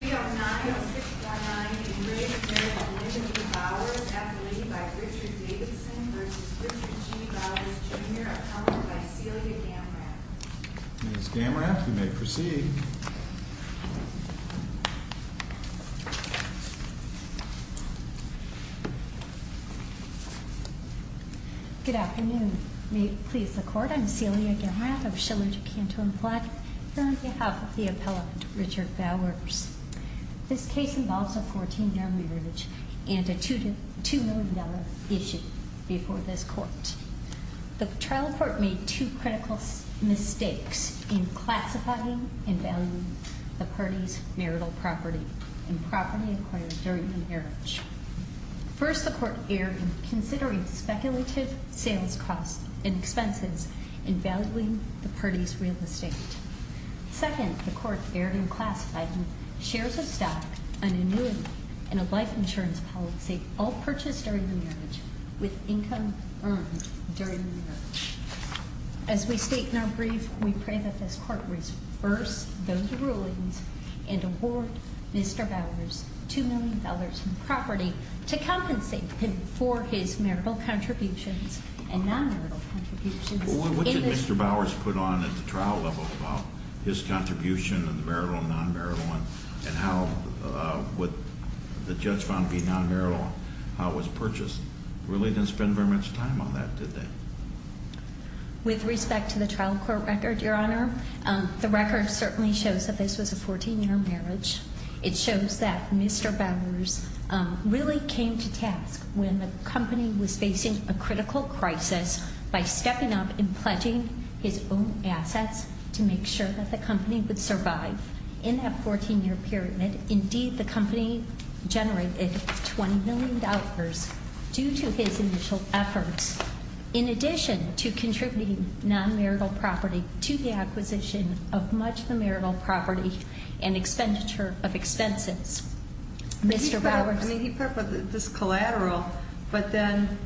309-619 Enraged Marriage of Elizabeth Bowers Appellee by Richard Davidson vs. Richard G. Bowers, Jr. Appellant by Celia Gamrath Ms. Gamrath, you may proceed. Good afternoon. May it please the Court? I'm Celia Gamrath of Schiller, DeCanto, and Platt here on behalf of the appellant, Richard Bowers. This case involves a 14-year marriage and a $2 million issue before this Court. The trial court made two critical mistakes in classifying and valuing the party's marital property and property acquired during the marriage. First, the court erred in considering speculative sales costs and expenses in valuing the party's real estate. Second, the court erred in classifying shares of stock, an annuity, and a life insurance policy all purchased during the marriage with income earned during the marriage. As we state in our brief, we pray that this Court reverse those rulings and award Mr. Bowers $2 million in property to compensate him for his marital contributions and non-marital contributions. What did Mr. Bowers put on at the trial level about his contribution of the marital and non-marital and how would the judge found it to be non-marital, how it was purchased? They really didn't spend very much time on that, did they? With respect to the trial court record, Your Honor, the record certainly shows that this was a 14-year marriage. It shows that Mr. Bowers really came to task when the company was facing a critical crisis by stepping up and pledging his own assets to make sure that the company would survive. In that 14-year period, indeed, the company generated $20 million due to his initial efforts in addition to contributing non-marital property to the acquisition of much of the marital property and expenditure of expenses. He put up this collateral, but then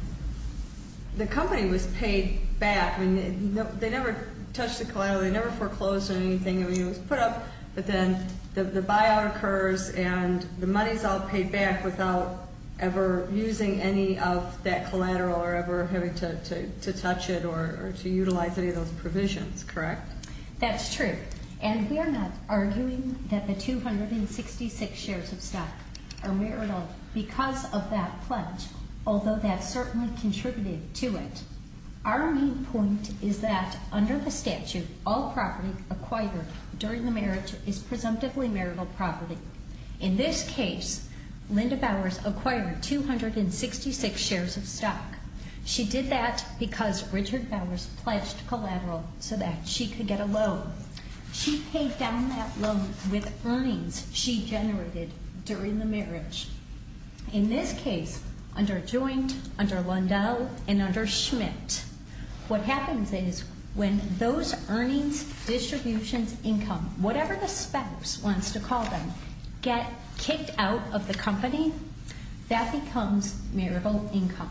the company was paid back. They never touched the collateral. They never foreclosed on anything. It was put up, but then the buyout occurs and the money is all paid back without ever using any of that collateral or ever having to touch it or to utilize any of those provisions, correct? That's true. And we're not arguing that the 266 shares of stock are marital because of that pledge, although that certainly contributed to it. Our main point is that under the statute, all property acquired during the marriage is presumptively marital property. In this case, Linda Bowers acquired 266 shares of stock. She did that because Richard Bowers pledged collateral so that she could get a loan. She paid down that loan with earnings she generated during the marriage. In this case, under Joint, under Lundell, and under Schmidt, what happens is when those earnings, distributions, income, whatever the spouse wants to call them, get kicked out of the company, that becomes marital income.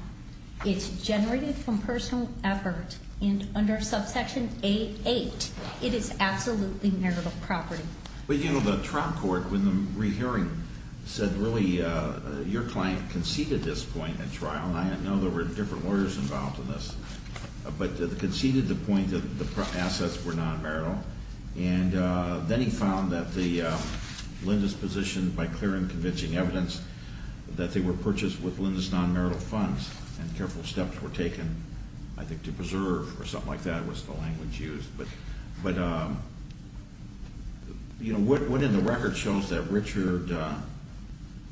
It's generated from personal effort. And under subsection A-8, it is absolutely marital property. But, you know, the trial court, when the re-hearing said, really, your client conceded this point at trial, and I know there were different lawyers involved in this, but conceded the point that the assets were non-marital. And then he found that Linda's position, by clear and convincing evidence, that they were purchased with Linda's non-marital funds, and careful steps were taken, I think, to preserve, or something like that was the language used. But, you know, what in the record shows that Richard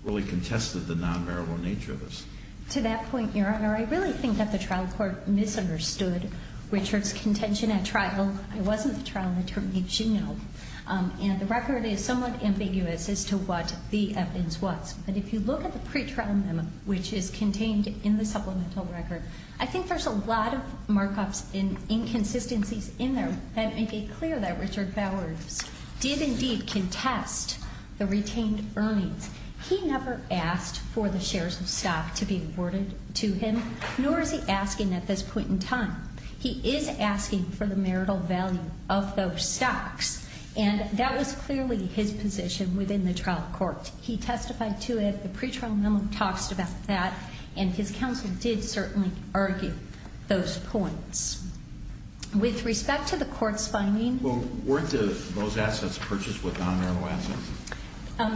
really contested the non-marital nature of this? To that point, Your Honor, I really think that the trial court misunderstood Richard's contention at trial. It wasn't the trial in the term she knew. And the record is somewhat ambiguous as to what the evidence was. But if you look at the pretrial memo, which is contained in the supplemental record, I think there's a lot of markups and inconsistencies in there that make it clear that Richard Bowers did indeed contest the retained earnings. He never asked for the shares of stock to be afforded to him, nor is he asking at this point in time. He is asking for the marital value of those stocks. And that was clearly his position within the trial court. He testified to it. The pretrial memo talks about that. And his counsel did certainly argue those points. With respect to the court's finding. Well, weren't those assets purchased with non-marital assets?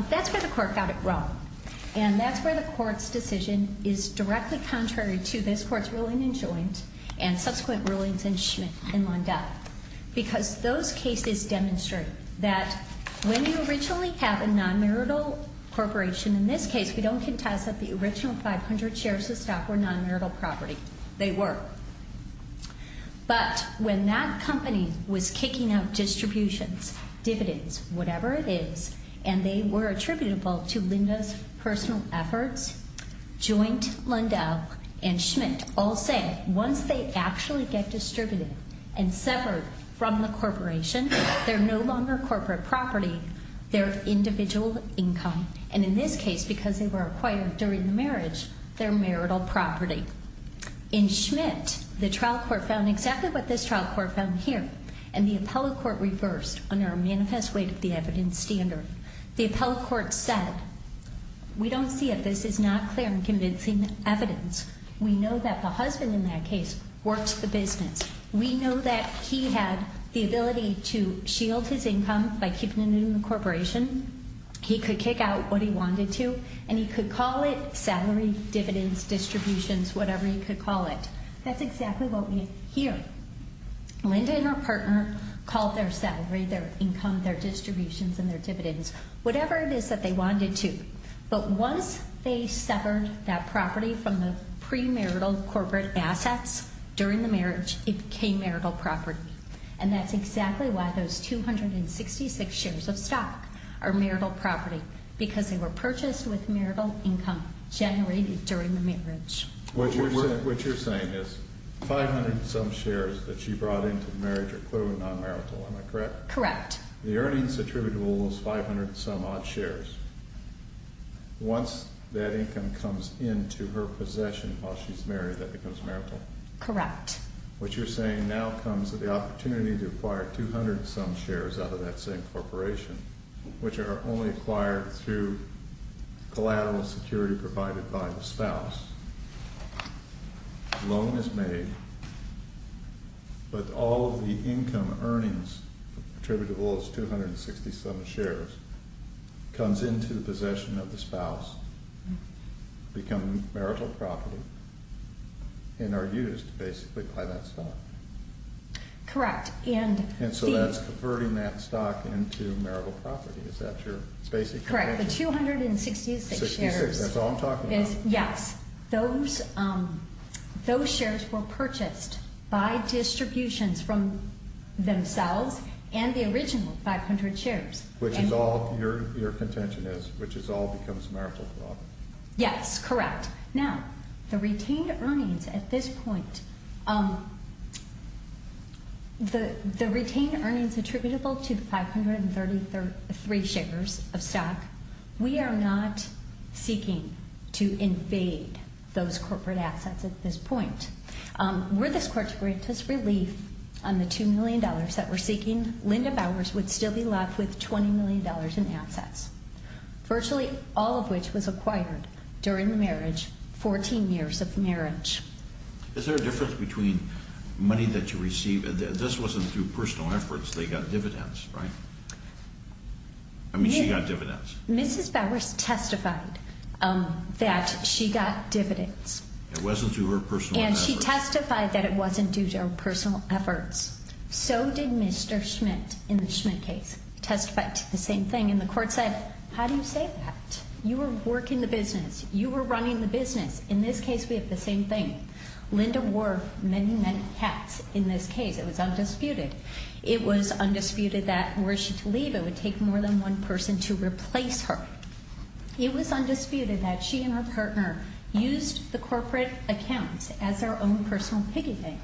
That's where the court got it wrong. And that's where the court's decision is directly contrary to this court's ruling in Joint and subsequent rulings in Schmidt and Landau. Because those cases demonstrate that when you originally have a non-marital corporation, in this case, we don't contest that the original 500 shares of stock were non-marital property. They were. But when that company was kicking out distributions, dividends, whatever it is, and they were attributable to Linda's personal efforts, Joint, Landau, and Schmidt, all say once they actually get distributed and severed from the corporation, they're no longer corporate property. They're individual income. And in this case, because they were acquired during the marriage, they're marital property. In Schmidt, the trial court found exactly what this trial court found here. And the appellate court reversed under a manifest weight of the evidence standard. The appellate court said, we don't see it. This is not clear and convincing evidence. We know that the husband in that case works the business. We know that he had the ability to shield his income by keeping it in the corporation. He could kick out what he wanted to, and he could call it salary, dividends, distributions, whatever he could call it. That's exactly what we hear. Linda and her partner called their salary, their income, their distributions, and their dividends, whatever it is that they wanted to. But once they severed that property from the premarital corporate assets during the marriage, it became marital property. And that's exactly why those 266 shares of stock are marital property, because they were purchased with marital income generated during the marriage. What you're saying is 500 and some shares that she brought into the marriage are clearly non-marital. Am I correct? Correct. The earnings attributable is 500 and some odd shares. Once that income comes into her possession while she's married, that becomes marital. Correct. What you're saying now comes at the opportunity to acquire 200 and some shares out of that same corporation, which are only acquired through collateral security provided by the spouse. Loan is made, but all of the income earnings attributable is 267 shares, comes into the possession of the spouse, become marital property, and are used, basically, by that stock. Correct. And so that's converting that stock into marital property. Is that your basic convention? Correct. The 266 shares. That's all I'm talking about. Yes. Those shares were purchased by distributions from themselves and the original 500 shares. Which is all your contention is, which is all becomes marital property. Yes, correct. Now, the retained earnings at this point, the retained earnings attributable to 533 shares of stock, we are not seeking to invade those corporate assets at this point. Were this court to grant us relief on the $2 million that we're seeking, Linda Bowers would still be left with $20 million in assets, virtually all of which was acquired during the marriage, 14 years of marriage. Is there a difference between money that you receive? This wasn't through personal efforts. They got dividends, right? I mean, she got dividends. Mrs. Bowers testified that she got dividends. It wasn't through her personal efforts. And she testified that it wasn't due to her personal efforts. So did Mr. Schmidt, in the Schmidt case, testified to the same thing. And the court said, how do you say that? You were working the business. You were running the business. In this case, we have the same thing. Linda wore many, many hats in this case. It was undisputed. It was undisputed that were she to leave, it would take more than one person to replace her. It was undisputed that she and her partner used the corporate accounts as their own personal piggy bank.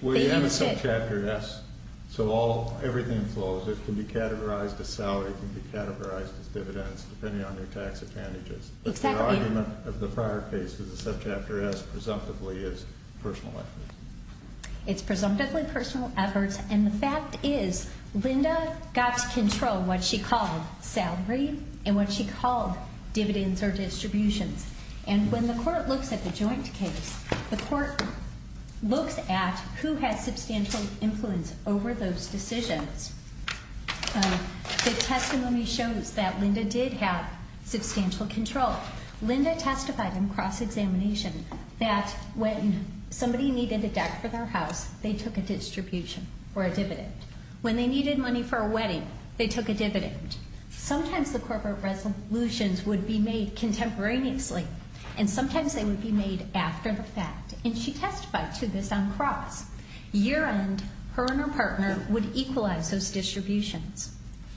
Well, you have a Subchapter S. So everything flows. It can be categorized as salary. It can be categorized as dividends, depending on your tax advantages. Exactly. But the argument of the prior case for the Subchapter S, presumptively, is personal efforts. It's presumptively personal efforts. And the fact is, Linda got control of what she called salary and what she called dividends or distributions. And when the court looks at the joint case, the court looks at who had substantial influence over those decisions. The testimony shows that Linda did have substantial control. Linda testified in cross-examination that when somebody needed a deck for their house, they took a distribution or a dividend. When they needed money for a wedding, they took a dividend. Sometimes the corporate resolutions would be made contemporaneously, and sometimes they would be made after the fact. And she testified to this on cross. Year-end, her and her partner would equalize those distributions.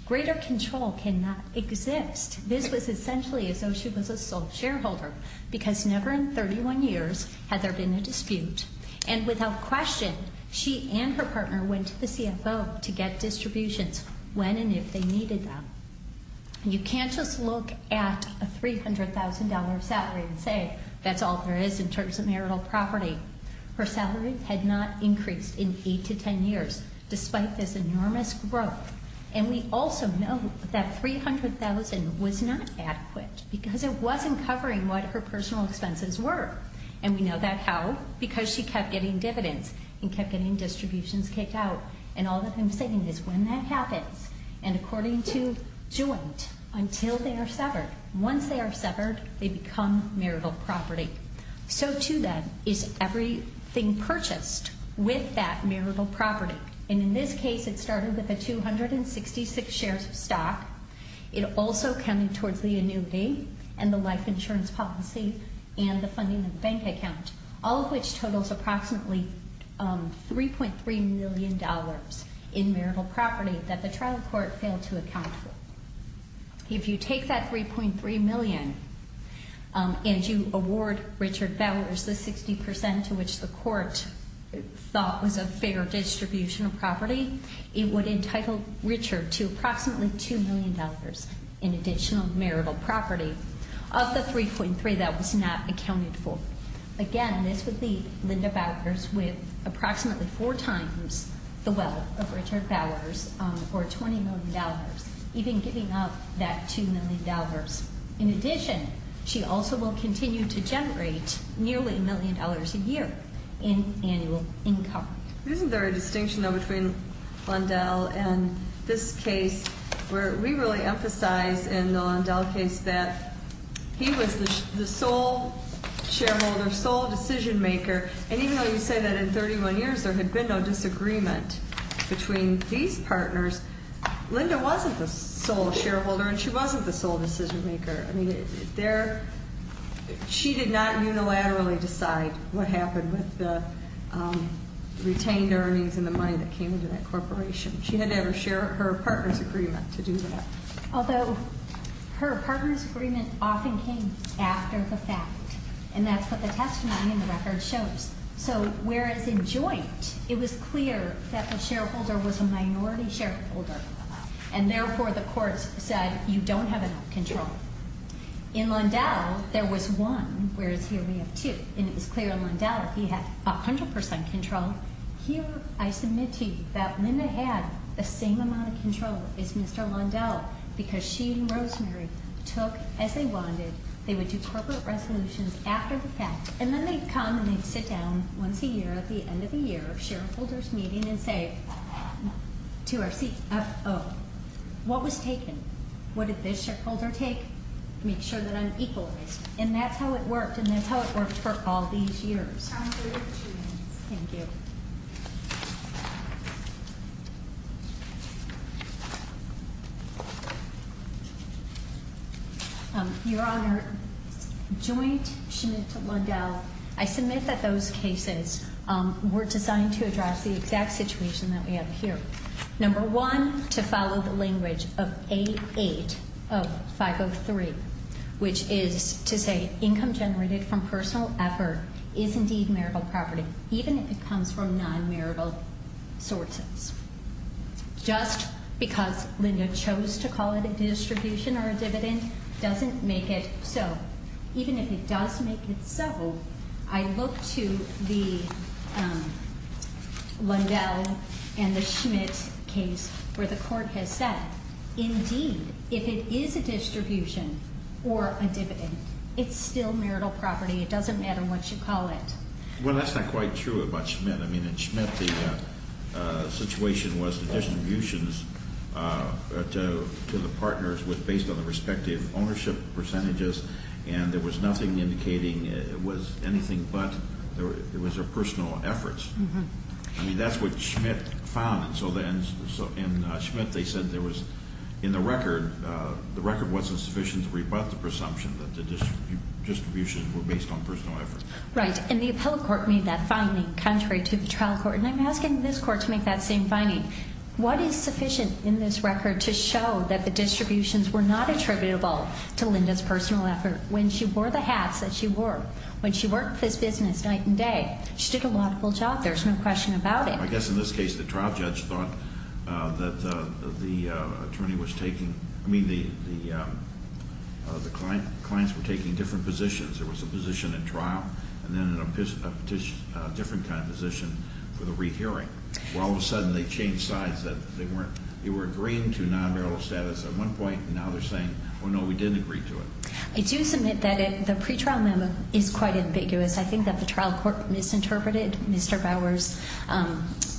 Greater control cannot exist. This was essentially as though she was a sole shareholder, because never in 31 years had there been a dispute. And without question, she and her partner went to the CFO to get distributions when and if they needed them. You can't just look at a $300,000 salary and say that's all there is in terms of marital property. Her salary had not increased in 8 to 10 years, despite this enormous growth. And we also know that $300,000 was not adequate, because it wasn't covering what her personal expenses were. And we know that how? Because she kept getting dividends and kept getting distributions kicked out. And all that I'm saying is when that happens, and according to joint, until they are severed. Once they are severed, they become marital property. So to that is everything purchased with that marital property. And in this case, it started with the 266 shares of stock. It also counted towards the annuity and the life insurance policy and the funding of the bank account. All of which totals approximately $3.3 million in marital property that the trial court failed to account for. If you take that 3.3 million and you award Richard Bowers the 60% to which the court thought was a fair distribution of property. It would entitle Richard to approximately $2 million in additional marital property of the 3.3 that was not accounted for. Again, this would leave Linda Bowers with approximately four times the wealth of Richard Bowers or $20 million. Even giving up that $2 million. In addition, she also will continue to generate nearly $1 million a year in annual income. Isn't there a distinction though between Lindell and this case where we really emphasize in the Lindell case that he was the sole shareholder, sole decision maker. And even though you say that in 31 years there had been no disagreement between these partners. Linda wasn't the sole shareholder and she wasn't the sole decision maker. She did not unilaterally decide what happened with the retained earnings and the money that came into that corporation. She had never shared her partner's agreement to do that. Although her partner's agreement often came after the fact. And that's what the testimony in the record shows. So whereas in joint it was clear that the shareholder was a minority shareholder. And therefore the courts said you don't have enough control. In Lindell there was one, whereas here we have two. And it was clear in Lindell he had 100% control. Here I submit to you that Linda had the same amount of control as Mr. Lindell. Because she and Rosemary took, as they wanted, they would do corporate resolutions after the fact. And then they'd come and they'd sit down once a year at the end of the year of shareholder's meeting and say to our CFO, what was taken? What did this shareholder take? Make sure that I'm equalized. And that's how it worked. And that's how it worked for all these years. Thank you. Your Honor, joint Schmidt to Lindell. I submit that those cases were designed to address the exact situation that we have here. Number one, to follow the language of A8 of 503, which is to say income generated from personal effort is indeed marital property, even if it comes from non-marital sources. Just because Linda chose to call it a distribution or a dividend doesn't make it so. In that case where the court has said, indeed, if it is a distribution or a dividend, it's still marital property. It doesn't matter what you call it. Well, that's not quite true about Schmidt. I mean, in Schmidt the situation was the distributions to the partners was based on the respective ownership percentages. And there was nothing indicating it was anything but it was their personal efforts. I mean, that's what Schmidt found. So then in Schmidt they said there was, in the record, the record wasn't sufficient to rebut the presumption that the distributions were based on personal effort. Right. And the appellate court made that finding contrary to the trial court. And I'm asking this court to make that same finding. What is sufficient in this record to show that the distributions were not attributable to Linda's personal effort? When she wore the hats that she wore, when she worked this business night and day, she did a laudable job. There's no question about it. I guess in this case the trial judge thought that the clients were taking different positions. There was a position at trial and then a different kind of position for the rehearing. Well, all of a sudden they changed sides. They were agreeing to non-marital status at one point, and now they're saying, well, no, we didn't agree to it. I do submit that the pretrial memo is quite ambiguous. I think that the trial court misinterpreted Mr. Bower's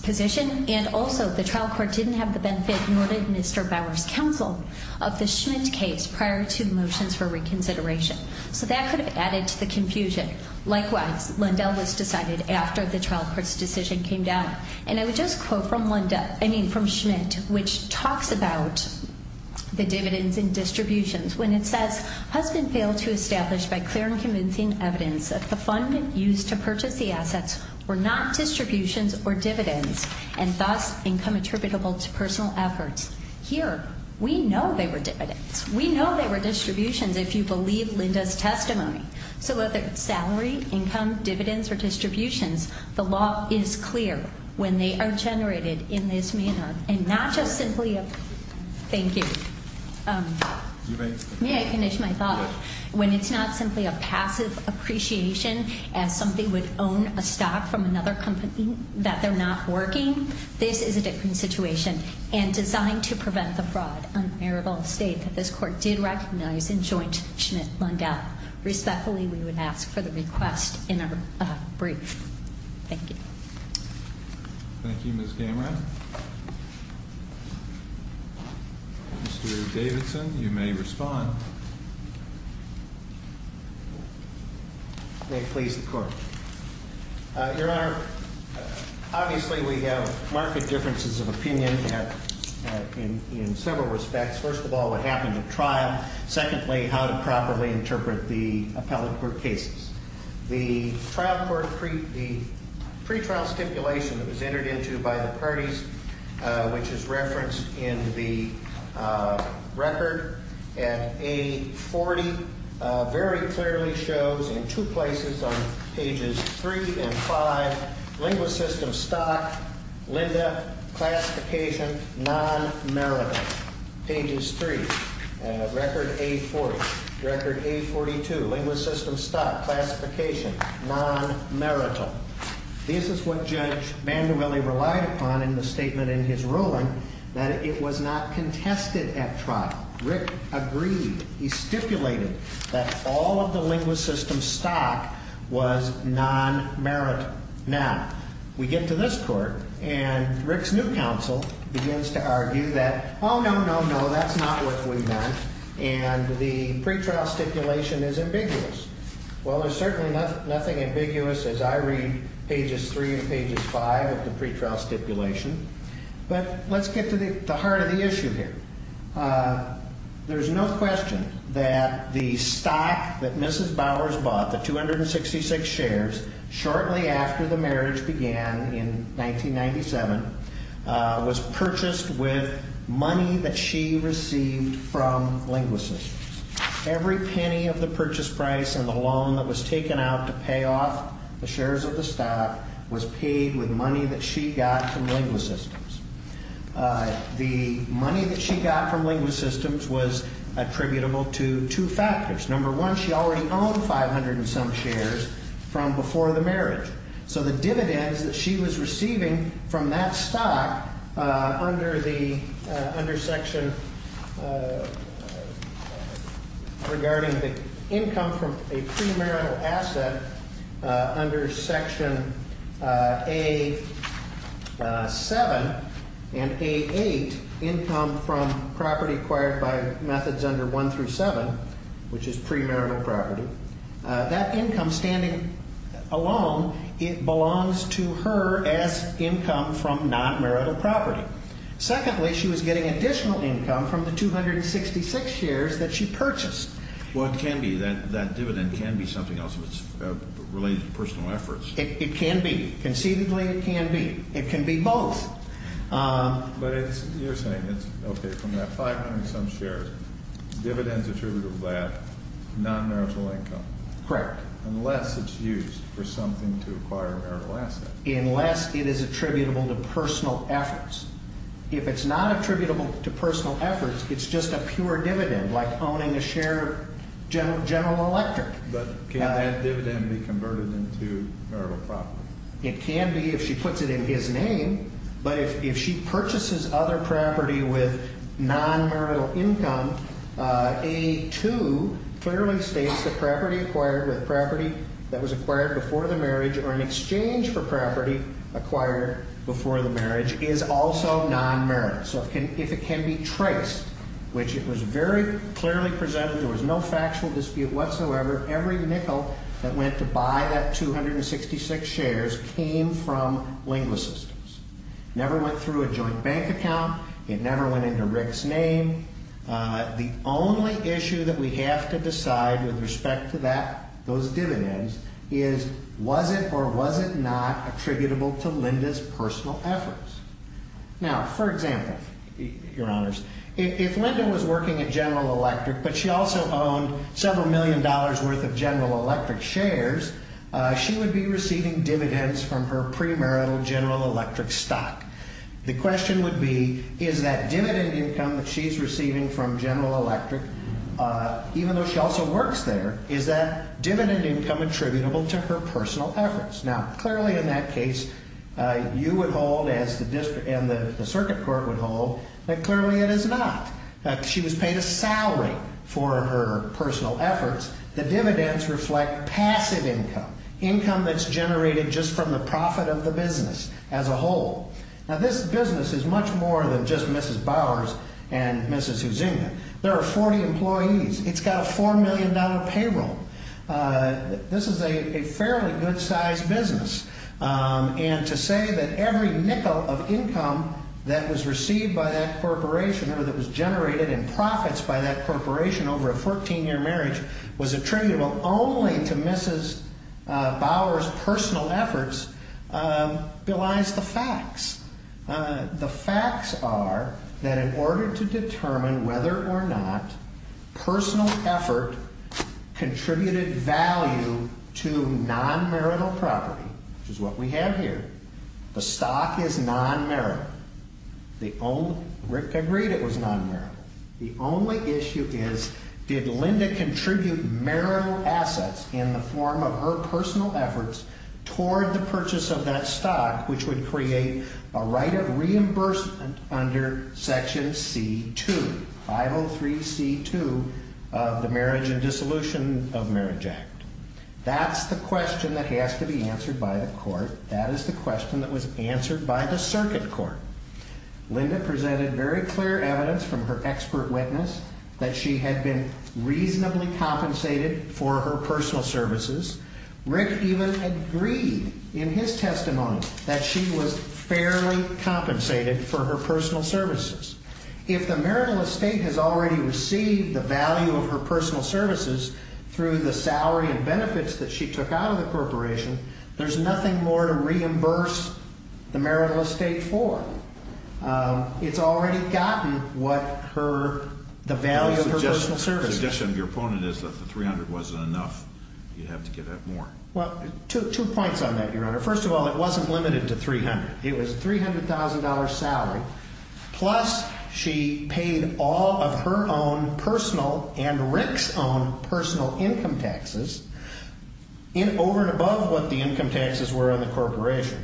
position. And also the trial court didn't have the benefit, nor did Mr. Bower's counsel, of the Schmidt case prior to motions for reconsideration. So that could have added to the confusion. Likewise, Lindell was decided after the trial court's decision came down. And I would just quote from Linda, I mean from Schmidt, which talks about the dividends and distributions, when it says, husband failed to establish by clear and convincing evidence that the fund used to purchase the assets were not distributions or dividends, and thus income attributable to personal efforts. Here, we know they were dividends. We know they were distributions if you believe Linda's testimony. So whether it's salary, income, dividends, or distributions, the law is clear when they are generated in this manner. And not just simply a, thank you. May I finish my thought? When it's not simply a passive appreciation as somebody would own a stock from another company that they're not working, this is a different situation and designed to prevent the fraud on marital estate that this court did recognize in joint Schmidt-Lindell. Respectfully, we would ask for the request in our brief. Thank you. Thank you, Ms. Gamran. Mr. Davidson, you may respond. May it please the court. Your Honor, obviously we have markedly differences of opinion in several respects. First of all, what happened at trial. Secondly, how to properly interpret the appellate court cases. The trial court, the pretrial stipulation that was entered into by the parties, which is referenced in the record at A40, very clearly shows in two places on pages three and five, linguist system, stock, Linda, classification, non-marital. Pages three, record A40, record A42, linguist system, stock, classification, non-marital. This is what Judge Bandubelli relied upon in the statement in his ruling that it was not contested at trial. Rick agreed. He stipulated that all of the linguist system stock was non-marital. Now, we get to this court, and Rick's new counsel begins to argue that, oh, no, no, no, that's not what we want, and the pretrial stipulation is ambiguous. Well, there's certainly nothing ambiguous as I read pages three and pages five of the pretrial stipulation. But let's get to the heart of the issue here. There's no question that the stock that Mrs. Bowers bought, the 266 shares, shortly after the marriage began in 1997, was purchased with money that she received from linguist systems. Every penny of the purchase price and the loan that was taken out to pay off the shares of the stock was paid with money that she got from linguist systems. The money that she got from linguist systems was attributable to two factors. Number one, she already owned 500 and some shares from before the marriage. So the dividends that she was receiving from that stock under section regarding the income from a premarital asset under section A7 and A8, income from property acquired by methods under 1 through 7, which is premarital property, that income standing alone belongs to her as income from nonmarital property. Secondly, she was getting additional income from the 266 shares that she purchased. Well, it can be. That dividend can be something else that's related to personal efforts. It can be. Conceivably, it can be. It can be both. But you're saying it's okay from that 500 and some shares, dividends attributable to that nonmarital income. Correct. Unless it's used for something to acquire a marital asset. Unless it is attributable to personal efforts. If it's not attributable to personal efforts, it's just a pure dividend, like owning a share of General Electric. But can that dividend be converted into marital property? It can be if she puts it in his name, but if she purchases other property with nonmarital income, A2 clearly states that property acquired with property that was acquired before the marriage or in exchange for property acquired before the marriage is also nonmarital. So if it can be traced, which it was very clearly presented, there was no factual dispute whatsoever, every nickel that went to buy that 266 shares came from LinguaSystems. Never went through a joint bank account. It never went into Rick's name. The only issue that we have to decide with respect to that, those dividends, is was it or was it not attributable to Linda's personal efforts? Now, for example, Your Honors, if Linda was working at General Electric, but she also owned several million dollars' worth of General Electric shares, she would be receiving dividends from her premarital General Electric stock. The question would be, is that dividend income that she's receiving from General Electric, even though she also works there, is that dividend income attributable to her personal efforts? Now, clearly in that case, you would hold as the district and the circuit court would hold that clearly it is not. She was paid a salary for her personal efforts. The dividends reflect passive income, income that's generated just from the profit of the business as a whole. Now, this business is much more than just Mrs. Bowers and Mrs. Huizinga. There are 40 employees. It's got a $4 million payroll. This is a fairly good-sized business. And to say that every nickel of income that was received by that corporation or that was generated in profits by that corporation over a 14-year marriage was attributable only to Mrs. Bowers' personal efforts belies the facts. The facts are that in order to determine whether or not personal effort contributed value to non-marital property, which is what we have here, the stock is non-marital. Rick agreed it was non-marital. The only issue is, did Linda contribute marital assets in the form of her personal efforts toward the purchase of that stock, which would create a right of reimbursement under Section C-2, 503C-2 of the Marriage and Dissolution of Marriage Act? That's the question that has to be answered by the court. That is the question that was answered by the circuit court. Linda presented very clear evidence from her expert witness that she had been reasonably compensated for her personal services. Rick even agreed in his testimony that she was fairly compensated for her personal services. If the marital estate has already received the value of her personal services through the salary and benefits that she took out of the corporation, there's nothing more to reimburse the marital estate for. It's already gotten what her, the value of her personal services. The suggestion of your opponent is that the $300,000 wasn't enough. You'd have to give that more. Well, two points on that, Your Honor. First of all, it wasn't limited to $300,000. It was a $300,000 salary, plus she paid all of her own personal and Rick's own personal income taxes over and above what the income taxes were on the corporation.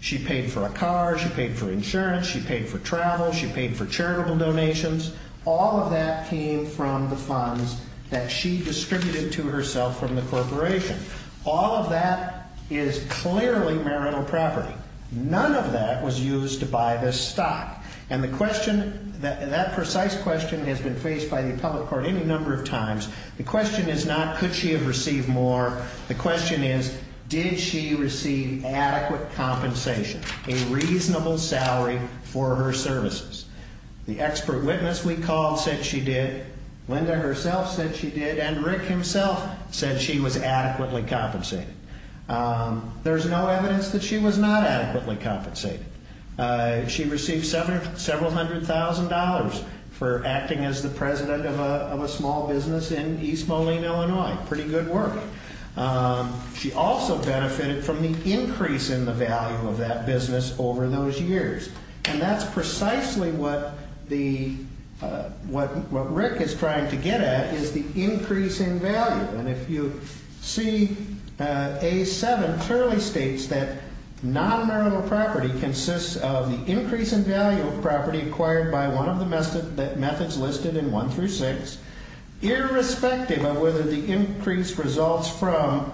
She paid for a car, she paid for insurance, she paid for travel, she paid for charitable donations. All of that came from the funds that she distributed to herself from the corporation. All of that is clearly marital property. None of that was used to buy this stock. And the question, that precise question has been faced by the appellate court any number of times. The question is not could she have received more. The question is did she receive adequate compensation, a reasonable salary for her services? The expert witness we called said she did. Linda herself said she did. And Rick himself said she was adequately compensated. There's no evidence that she was not adequately compensated. She received several hundred thousand dollars for acting as the president of a small business in East Moline, Illinois. Pretty good work. She also benefited from the increase in the value of that business over those years. And that's precisely what Rick is trying to get at is the increase in value. And if you see A7 clearly states that non-marital property consists of the increase in value of property acquired by one of the methods listed in 1 through 6, irrespective of whether the increase results from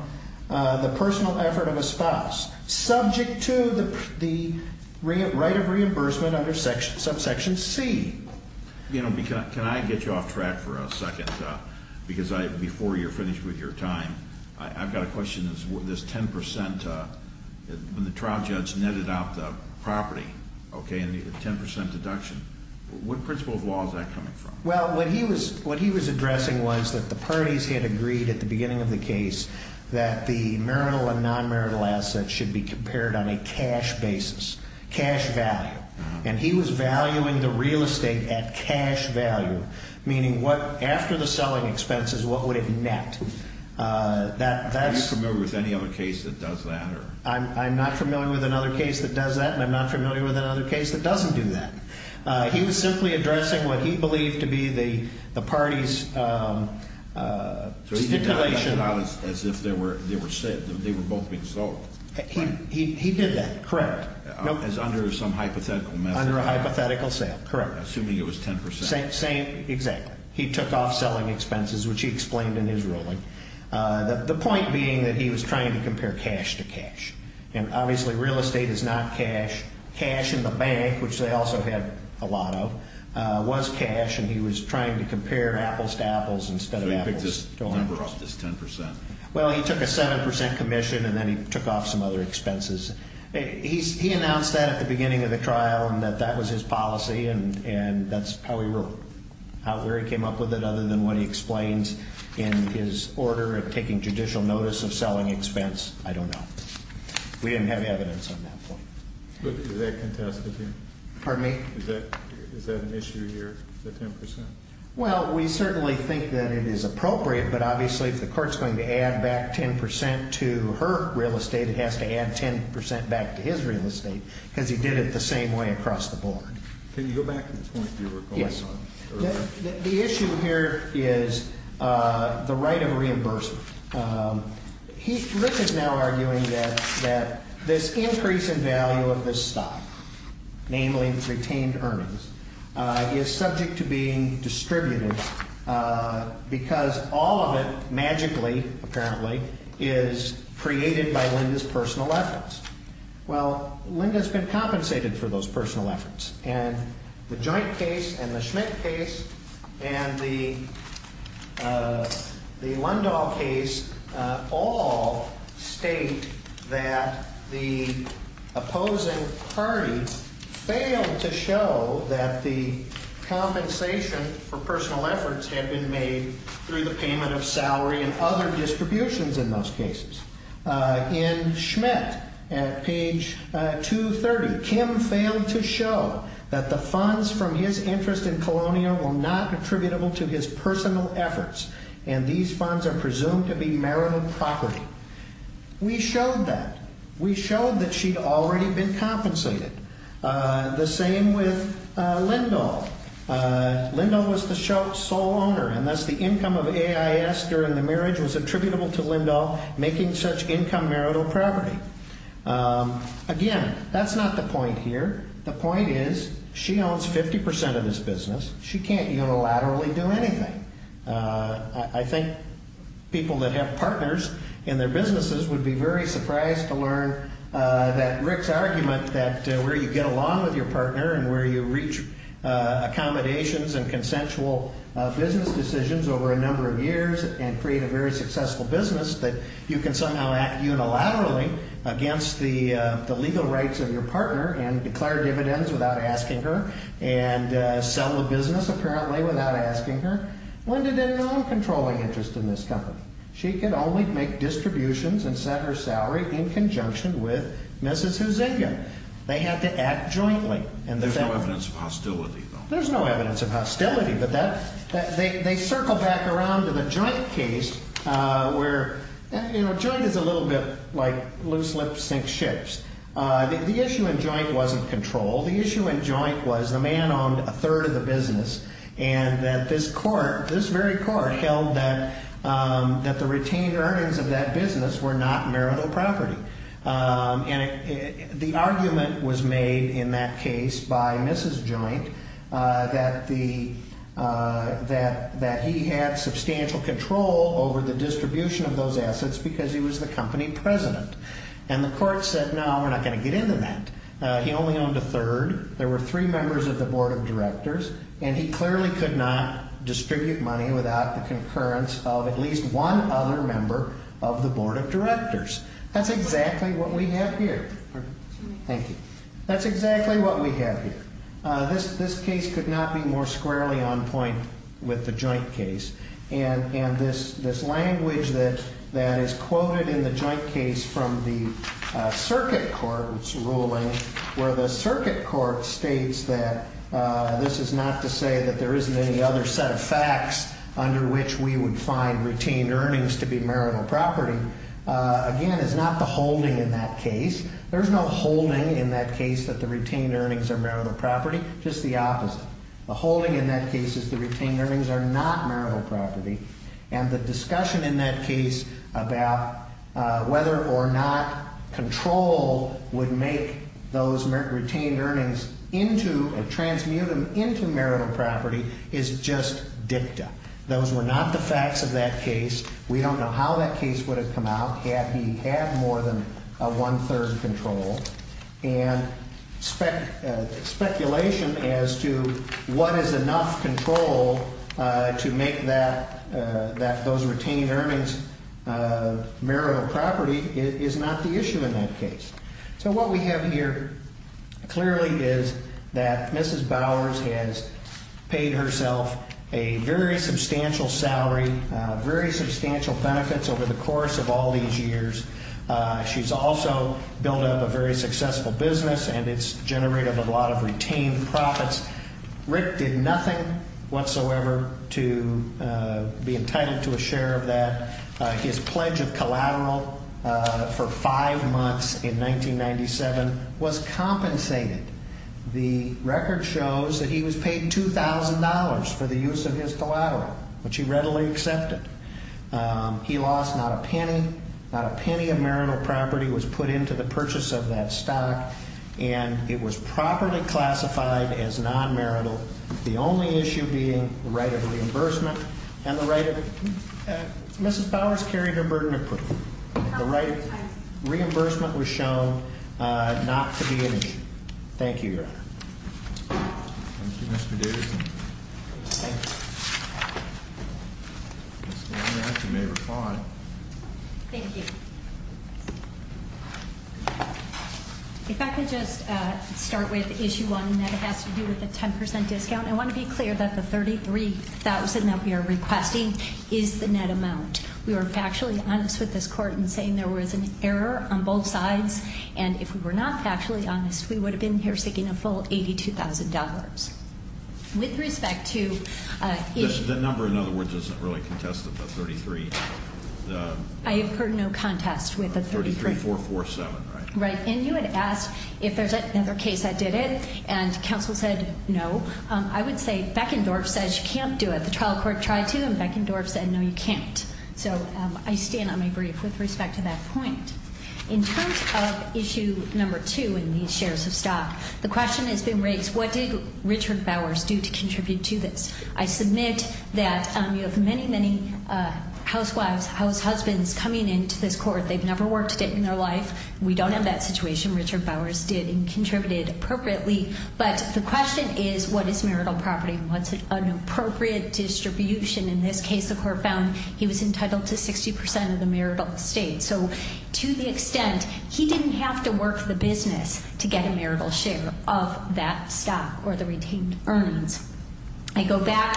the personal effort of a spouse, subject to the right of reimbursement under subsection C. You know, can I get you off track for a second? Because before you're finished with your time, I've got a question. This 10% when the trial judge netted out the property, okay, and the 10% deduction, what principle of law is that coming from? Well, what he was addressing was that the parties had agreed at the beginning of the case that the marital and non-marital assets should be compared on a cash basis, cash value. And he was valuing the real estate at cash value, meaning after the selling expenses, what would it net? Are you familiar with any other case that does that? I'm not familiar with another case that does that, and I'm not familiar with another case that doesn't do that. He was simply addressing what he believed to be the party's stipulation. So he didn't let it out as if they were both being sold. He did that, correct. As under some hypothetical method. Under a hypothetical sale, correct. Assuming it was 10%. Exactly. He took off selling expenses, which he explained in his ruling. The point being that he was trying to compare cash to cash. And obviously real estate is not cash. Cash in the bank, which they also had a lot of, was cash, and he was trying to compare apples to apples instead of apples to apples. So he picked this number up, this 10%. Well, he took a 7% commission, and then he took off some other expenses. He announced that at the beginning of the trial and that that was his policy, and that's how he wrote it. I don't know where he came up with it other than what he explains in his order of taking judicial notice of selling expense. I don't know. We didn't have evidence on that point. Is that contested here? Pardon me? Is that an issue here, the 10%? Well, we certainly think that it is appropriate, but obviously if the court's going to add back 10% to her real estate, it has to add 10% back to his real estate because he did it the same way across the board. Can you go back to the point you were going on earlier? The issue here is the right of reimbursement. Rick is now arguing that this increase in value of this stock, namely retained earnings, is subject to being distributed because all of it magically, apparently, is created by Linda's personal efforts. Well, Linda's been compensated for those personal efforts, and the Joint case and the Schmidt case and the Lundahl case all state that the opposing party failed to show that the compensation for personal efforts had been made through the payment of salary and other distributions in those cases. In Schmidt, at page 230, Kim failed to show that the funds from his interest in Colonial were not attributable to his personal efforts, and these funds are presumed to be merited property. We showed that. We showed that she'd already been compensated. The same with Lindahl. Lindahl was the sole owner, and thus the income of AIS during the marriage was attributable to Lindahl making such income merito property. Again, that's not the point here. The point is she owns 50% of this business. She can't unilaterally do anything. I think people that have partners in their businesses would be very surprised to learn that Rick's argument that where you get along with your partner and where you reach accommodations and consensual business decisions over a number of years and create a very successful business, that you can somehow act unilaterally against the legal rights of your partner and declare dividends without asking her and sell the business, apparently, without asking her. Linda didn't own controlling interest in this company. She could only make distributions and set her salary in conjunction with Mrs. Huizenga. They had to act jointly. There's no evidence of hostility, though. There's no evidence of hostility, but they circle back around to the joint case where, you know, joint is a little bit like loose lips sink ships. The issue in joint wasn't control. The issue in joint was the man owned a third of the business and that this court, this very court, held that the retained earnings of that business were not marital property. And the argument was made in that case by Mrs. Joint that he had substantial control over the distribution of those assets because he was the company president. And the court said, no, we're not going to get into that. He only owned a third. There were three members of the board of directors, and he clearly could not distribute money without the concurrence of at least one other member of the board of directors. That's exactly what we have here. Thank you. That's exactly what we have here. This case could not be more squarely on point with the joint case. And this language that is quoted in the joint case from the circuit court's ruling, where the circuit court states that this is not to say that there isn't any other set of facts under which we would find retained earnings to be marital property. Again, it's not the holding in that case. There's no holding in that case that the retained earnings are marital property. Just the opposite. The holding in that case is the retained earnings are not marital property. And the discussion in that case about whether or not control would make those retained earnings into or transmute them into marital property is just dicta. Those were not the facts of that case. We don't know how that case would have come out had he had more than a one-third control. And speculation as to what is enough control to make that those retained earnings marital property is not the issue in that case. So what we have here clearly is that Mrs. Bowers has paid herself a very substantial salary, very substantial benefits over the course of all these years. She's also built up a very successful business, and it's generated a lot of retained profits. Rick did nothing whatsoever to be entitled to a share of that. His pledge of collateral for five months in 1997 was compensated. The record shows that he was paid $2,000 for the use of his collateral, which he readily accepted. He lost not a penny. Not a penny of marital property was put into the purchase of that stock, and it was properly classified as non-marital. The only issue being the right of reimbursement and the right of Mrs. Bowers carried her burden of proof. The right of reimbursement was shown not to be an issue. Thank you, Your Honor. Thank you, Mr. Davidson. Thank you. Ms. Lombard, you may reply. Thank you. If I could just start with issue one, and that has to do with the 10% discount. I want to be clear that the $33,000 that we are requesting is the net amount. We were factually honest with this court in saying there was an error on both sides, and if we were not factually honest, we would have been here seeking a full $82,000. The number, in other words, isn't really contested, the $33,000. I have heard no contest with the $33,000. $33,447, right? Right. And you had asked if there's another case that did it, and counsel said no. I would say Beckendorf says you can't do it. The trial court tried to, and Beckendorf said no, you can't. So I stand on my brief with respect to that point. In terms of issue number two in these shares of stock, the question has been raised, what did Richard Bowers do to contribute to this? I submit that you have many, many housewives, househusbands coming into this court. They've never worked it in their life. We don't have that situation. Richard Bowers did and contributed appropriately. But the question is, what is marital property, and what's an appropriate distribution? In this case, the court found he was entitled to 60% of the marital estate. So to the extent he didn't have to work the business to get a marital share of that stock or the retained earnings. I go back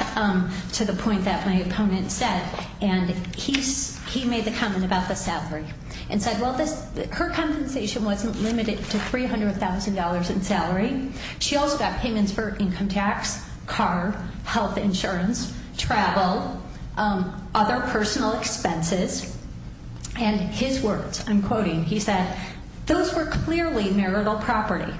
to the point that my opponent said, and he made the comment about the salary and said, well, her compensation wasn't limited to $300,000 in salary. She also got payments for income tax, car, health insurance, travel, other personal expenses. And his words, I'm quoting, he said, those were clearly marital property.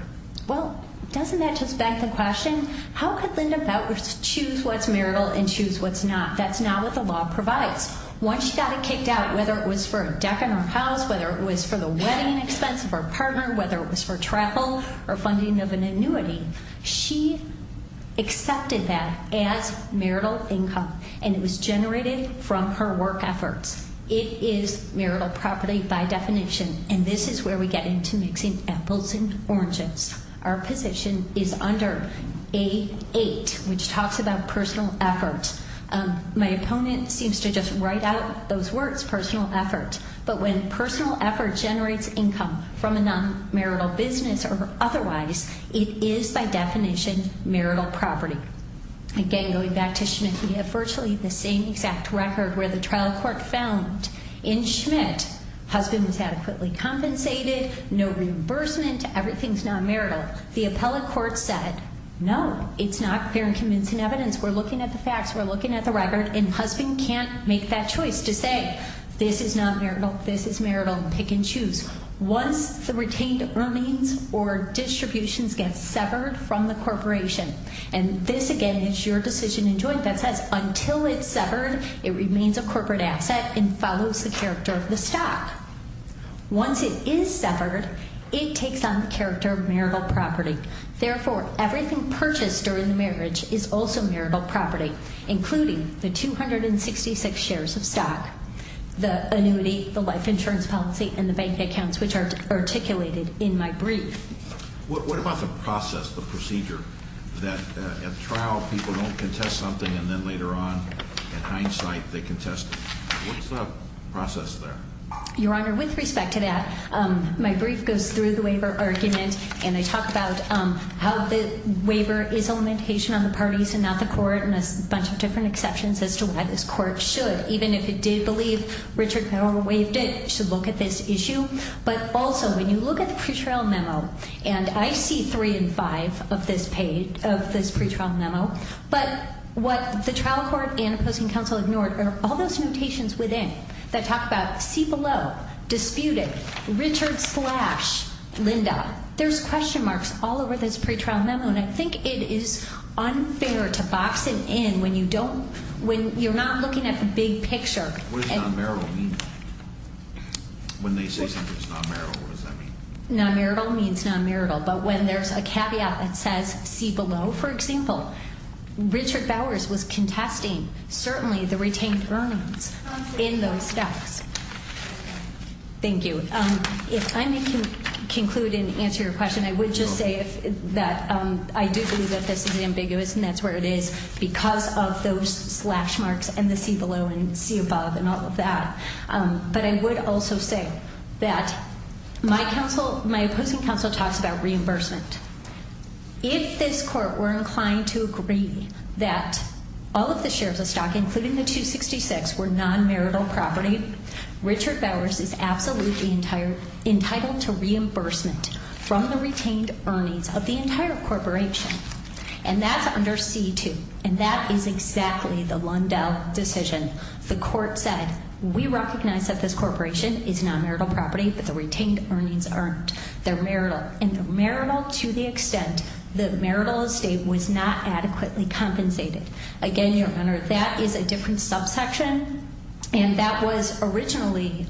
Well, doesn't that just beg the question, how could Linda Bowers choose what's marital and choose what's not? That's not what the law provides. Once she got it kicked out, whether it was for a deck in her house, whether it was for the wedding expense of her partner, whether it was for travel or funding of an annuity, she accepted that as marital income, and it was generated from her work efforts. It is marital property by definition, and this is where we get into mixing apples and oranges. Our position is under A8, which talks about personal effort. My opponent seems to just write out those words, personal effort. But when personal effort generates income from a non-marital business or otherwise, it is by definition marital property. Again, going back to Schmidt, we have virtually the same exact record where the trial court found in Schmidt, husband was adequately compensated, no reimbursement, everything's non-marital. The appellate court said, no, it's not fair and convincing evidence. We're looking at the facts, we're looking at the record, and husband can't make that choice to say, this is non-marital, this is marital, pick and choose. Once the retained remains or distributions get severed from the corporation, and this again is your decision in joint that says until it's severed, it remains a corporate asset and follows the character of the stock. Once it is severed, it takes on the character of marital property. Therefore, everything purchased during the marriage is also marital property, including the 266 shares of stock, the annuity, the life insurance policy, and the bank accounts, which are articulated in my brief. What about the process, the procedure, that at trial people don't contest something and then later on, in hindsight, they contest it? What's the process there? Your Honor, with respect to that, my brief goes through the waiver argument. And I talk about how the waiver is a limitation on the parties and not the court and a bunch of different exceptions as to why this court should, even if it did believe Richard Powell waived it, should look at this issue. But also, when you look at the pretrial memo, and I see three and five of this page, of this pretrial memo, but what the trial court and opposing counsel ignored are all those notations within that talk about see below, disputed, Richard slash Linda. There's question marks all over this pretrial memo, and I think it is unfair to box it in when you don't, when you're not looking at the big picture. What does non-marital mean? When they say something is non-marital, what does that mean? Non-marital means non-marital. But when there's a caveat that says see below, for example, Richard Bowers was contesting, certainly, the retained earnings in those steps. Thank you. If I may conclude and answer your question, I would just say that I do believe that this is ambiguous, and that's where it is, because of those slash marks and the see below and see above and all of that. But I would also say that my opposing counsel talks about reimbursement. If this court were inclined to agree that all of the shares of stock, including the 266, were non-marital property, Richard Bowers is absolutely entitled to reimbursement from the retained earnings of the entire corporation. And that's under C2, and that is exactly the Lundell decision. The court said we recognize that this corporation is non-marital property, but the retained earnings aren't. They're marital, and they're marital to the extent that marital estate was not adequately compensated. Again, Your Honor, that is a different subsection, and that was originally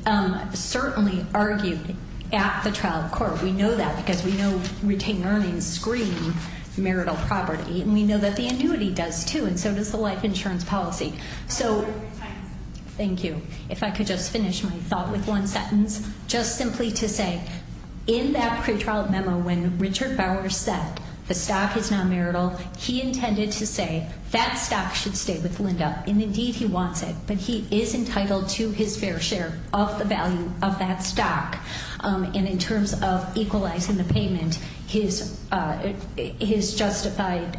certainly argued at the trial court. We know that because we know retained earnings screen marital property, and we know that the annuity does too, and so does the life insurance policy. Thank you. If I could just finish my thought with one sentence. Just simply to say, in that pretrial memo when Richard Bowers said the stock is non-marital, he intended to say that stock should stay with Lundell. And indeed he wants it, but he is entitled to his fair share of the value of that stock. And in terms of equalizing the payment, his justified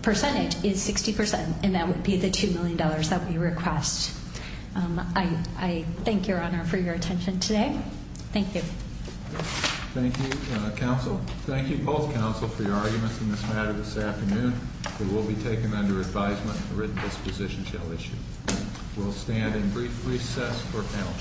percentage is 60%, and that would be the $2 million that we request. I thank Your Honor for your attention today. Thank you. Thank you, counsel. Thank you both, counsel, for your arguments in this matter this afternoon. It will be taken under advisement, and the written disposition shall issue. We'll stand in brief recess for panel discussion. Thank you.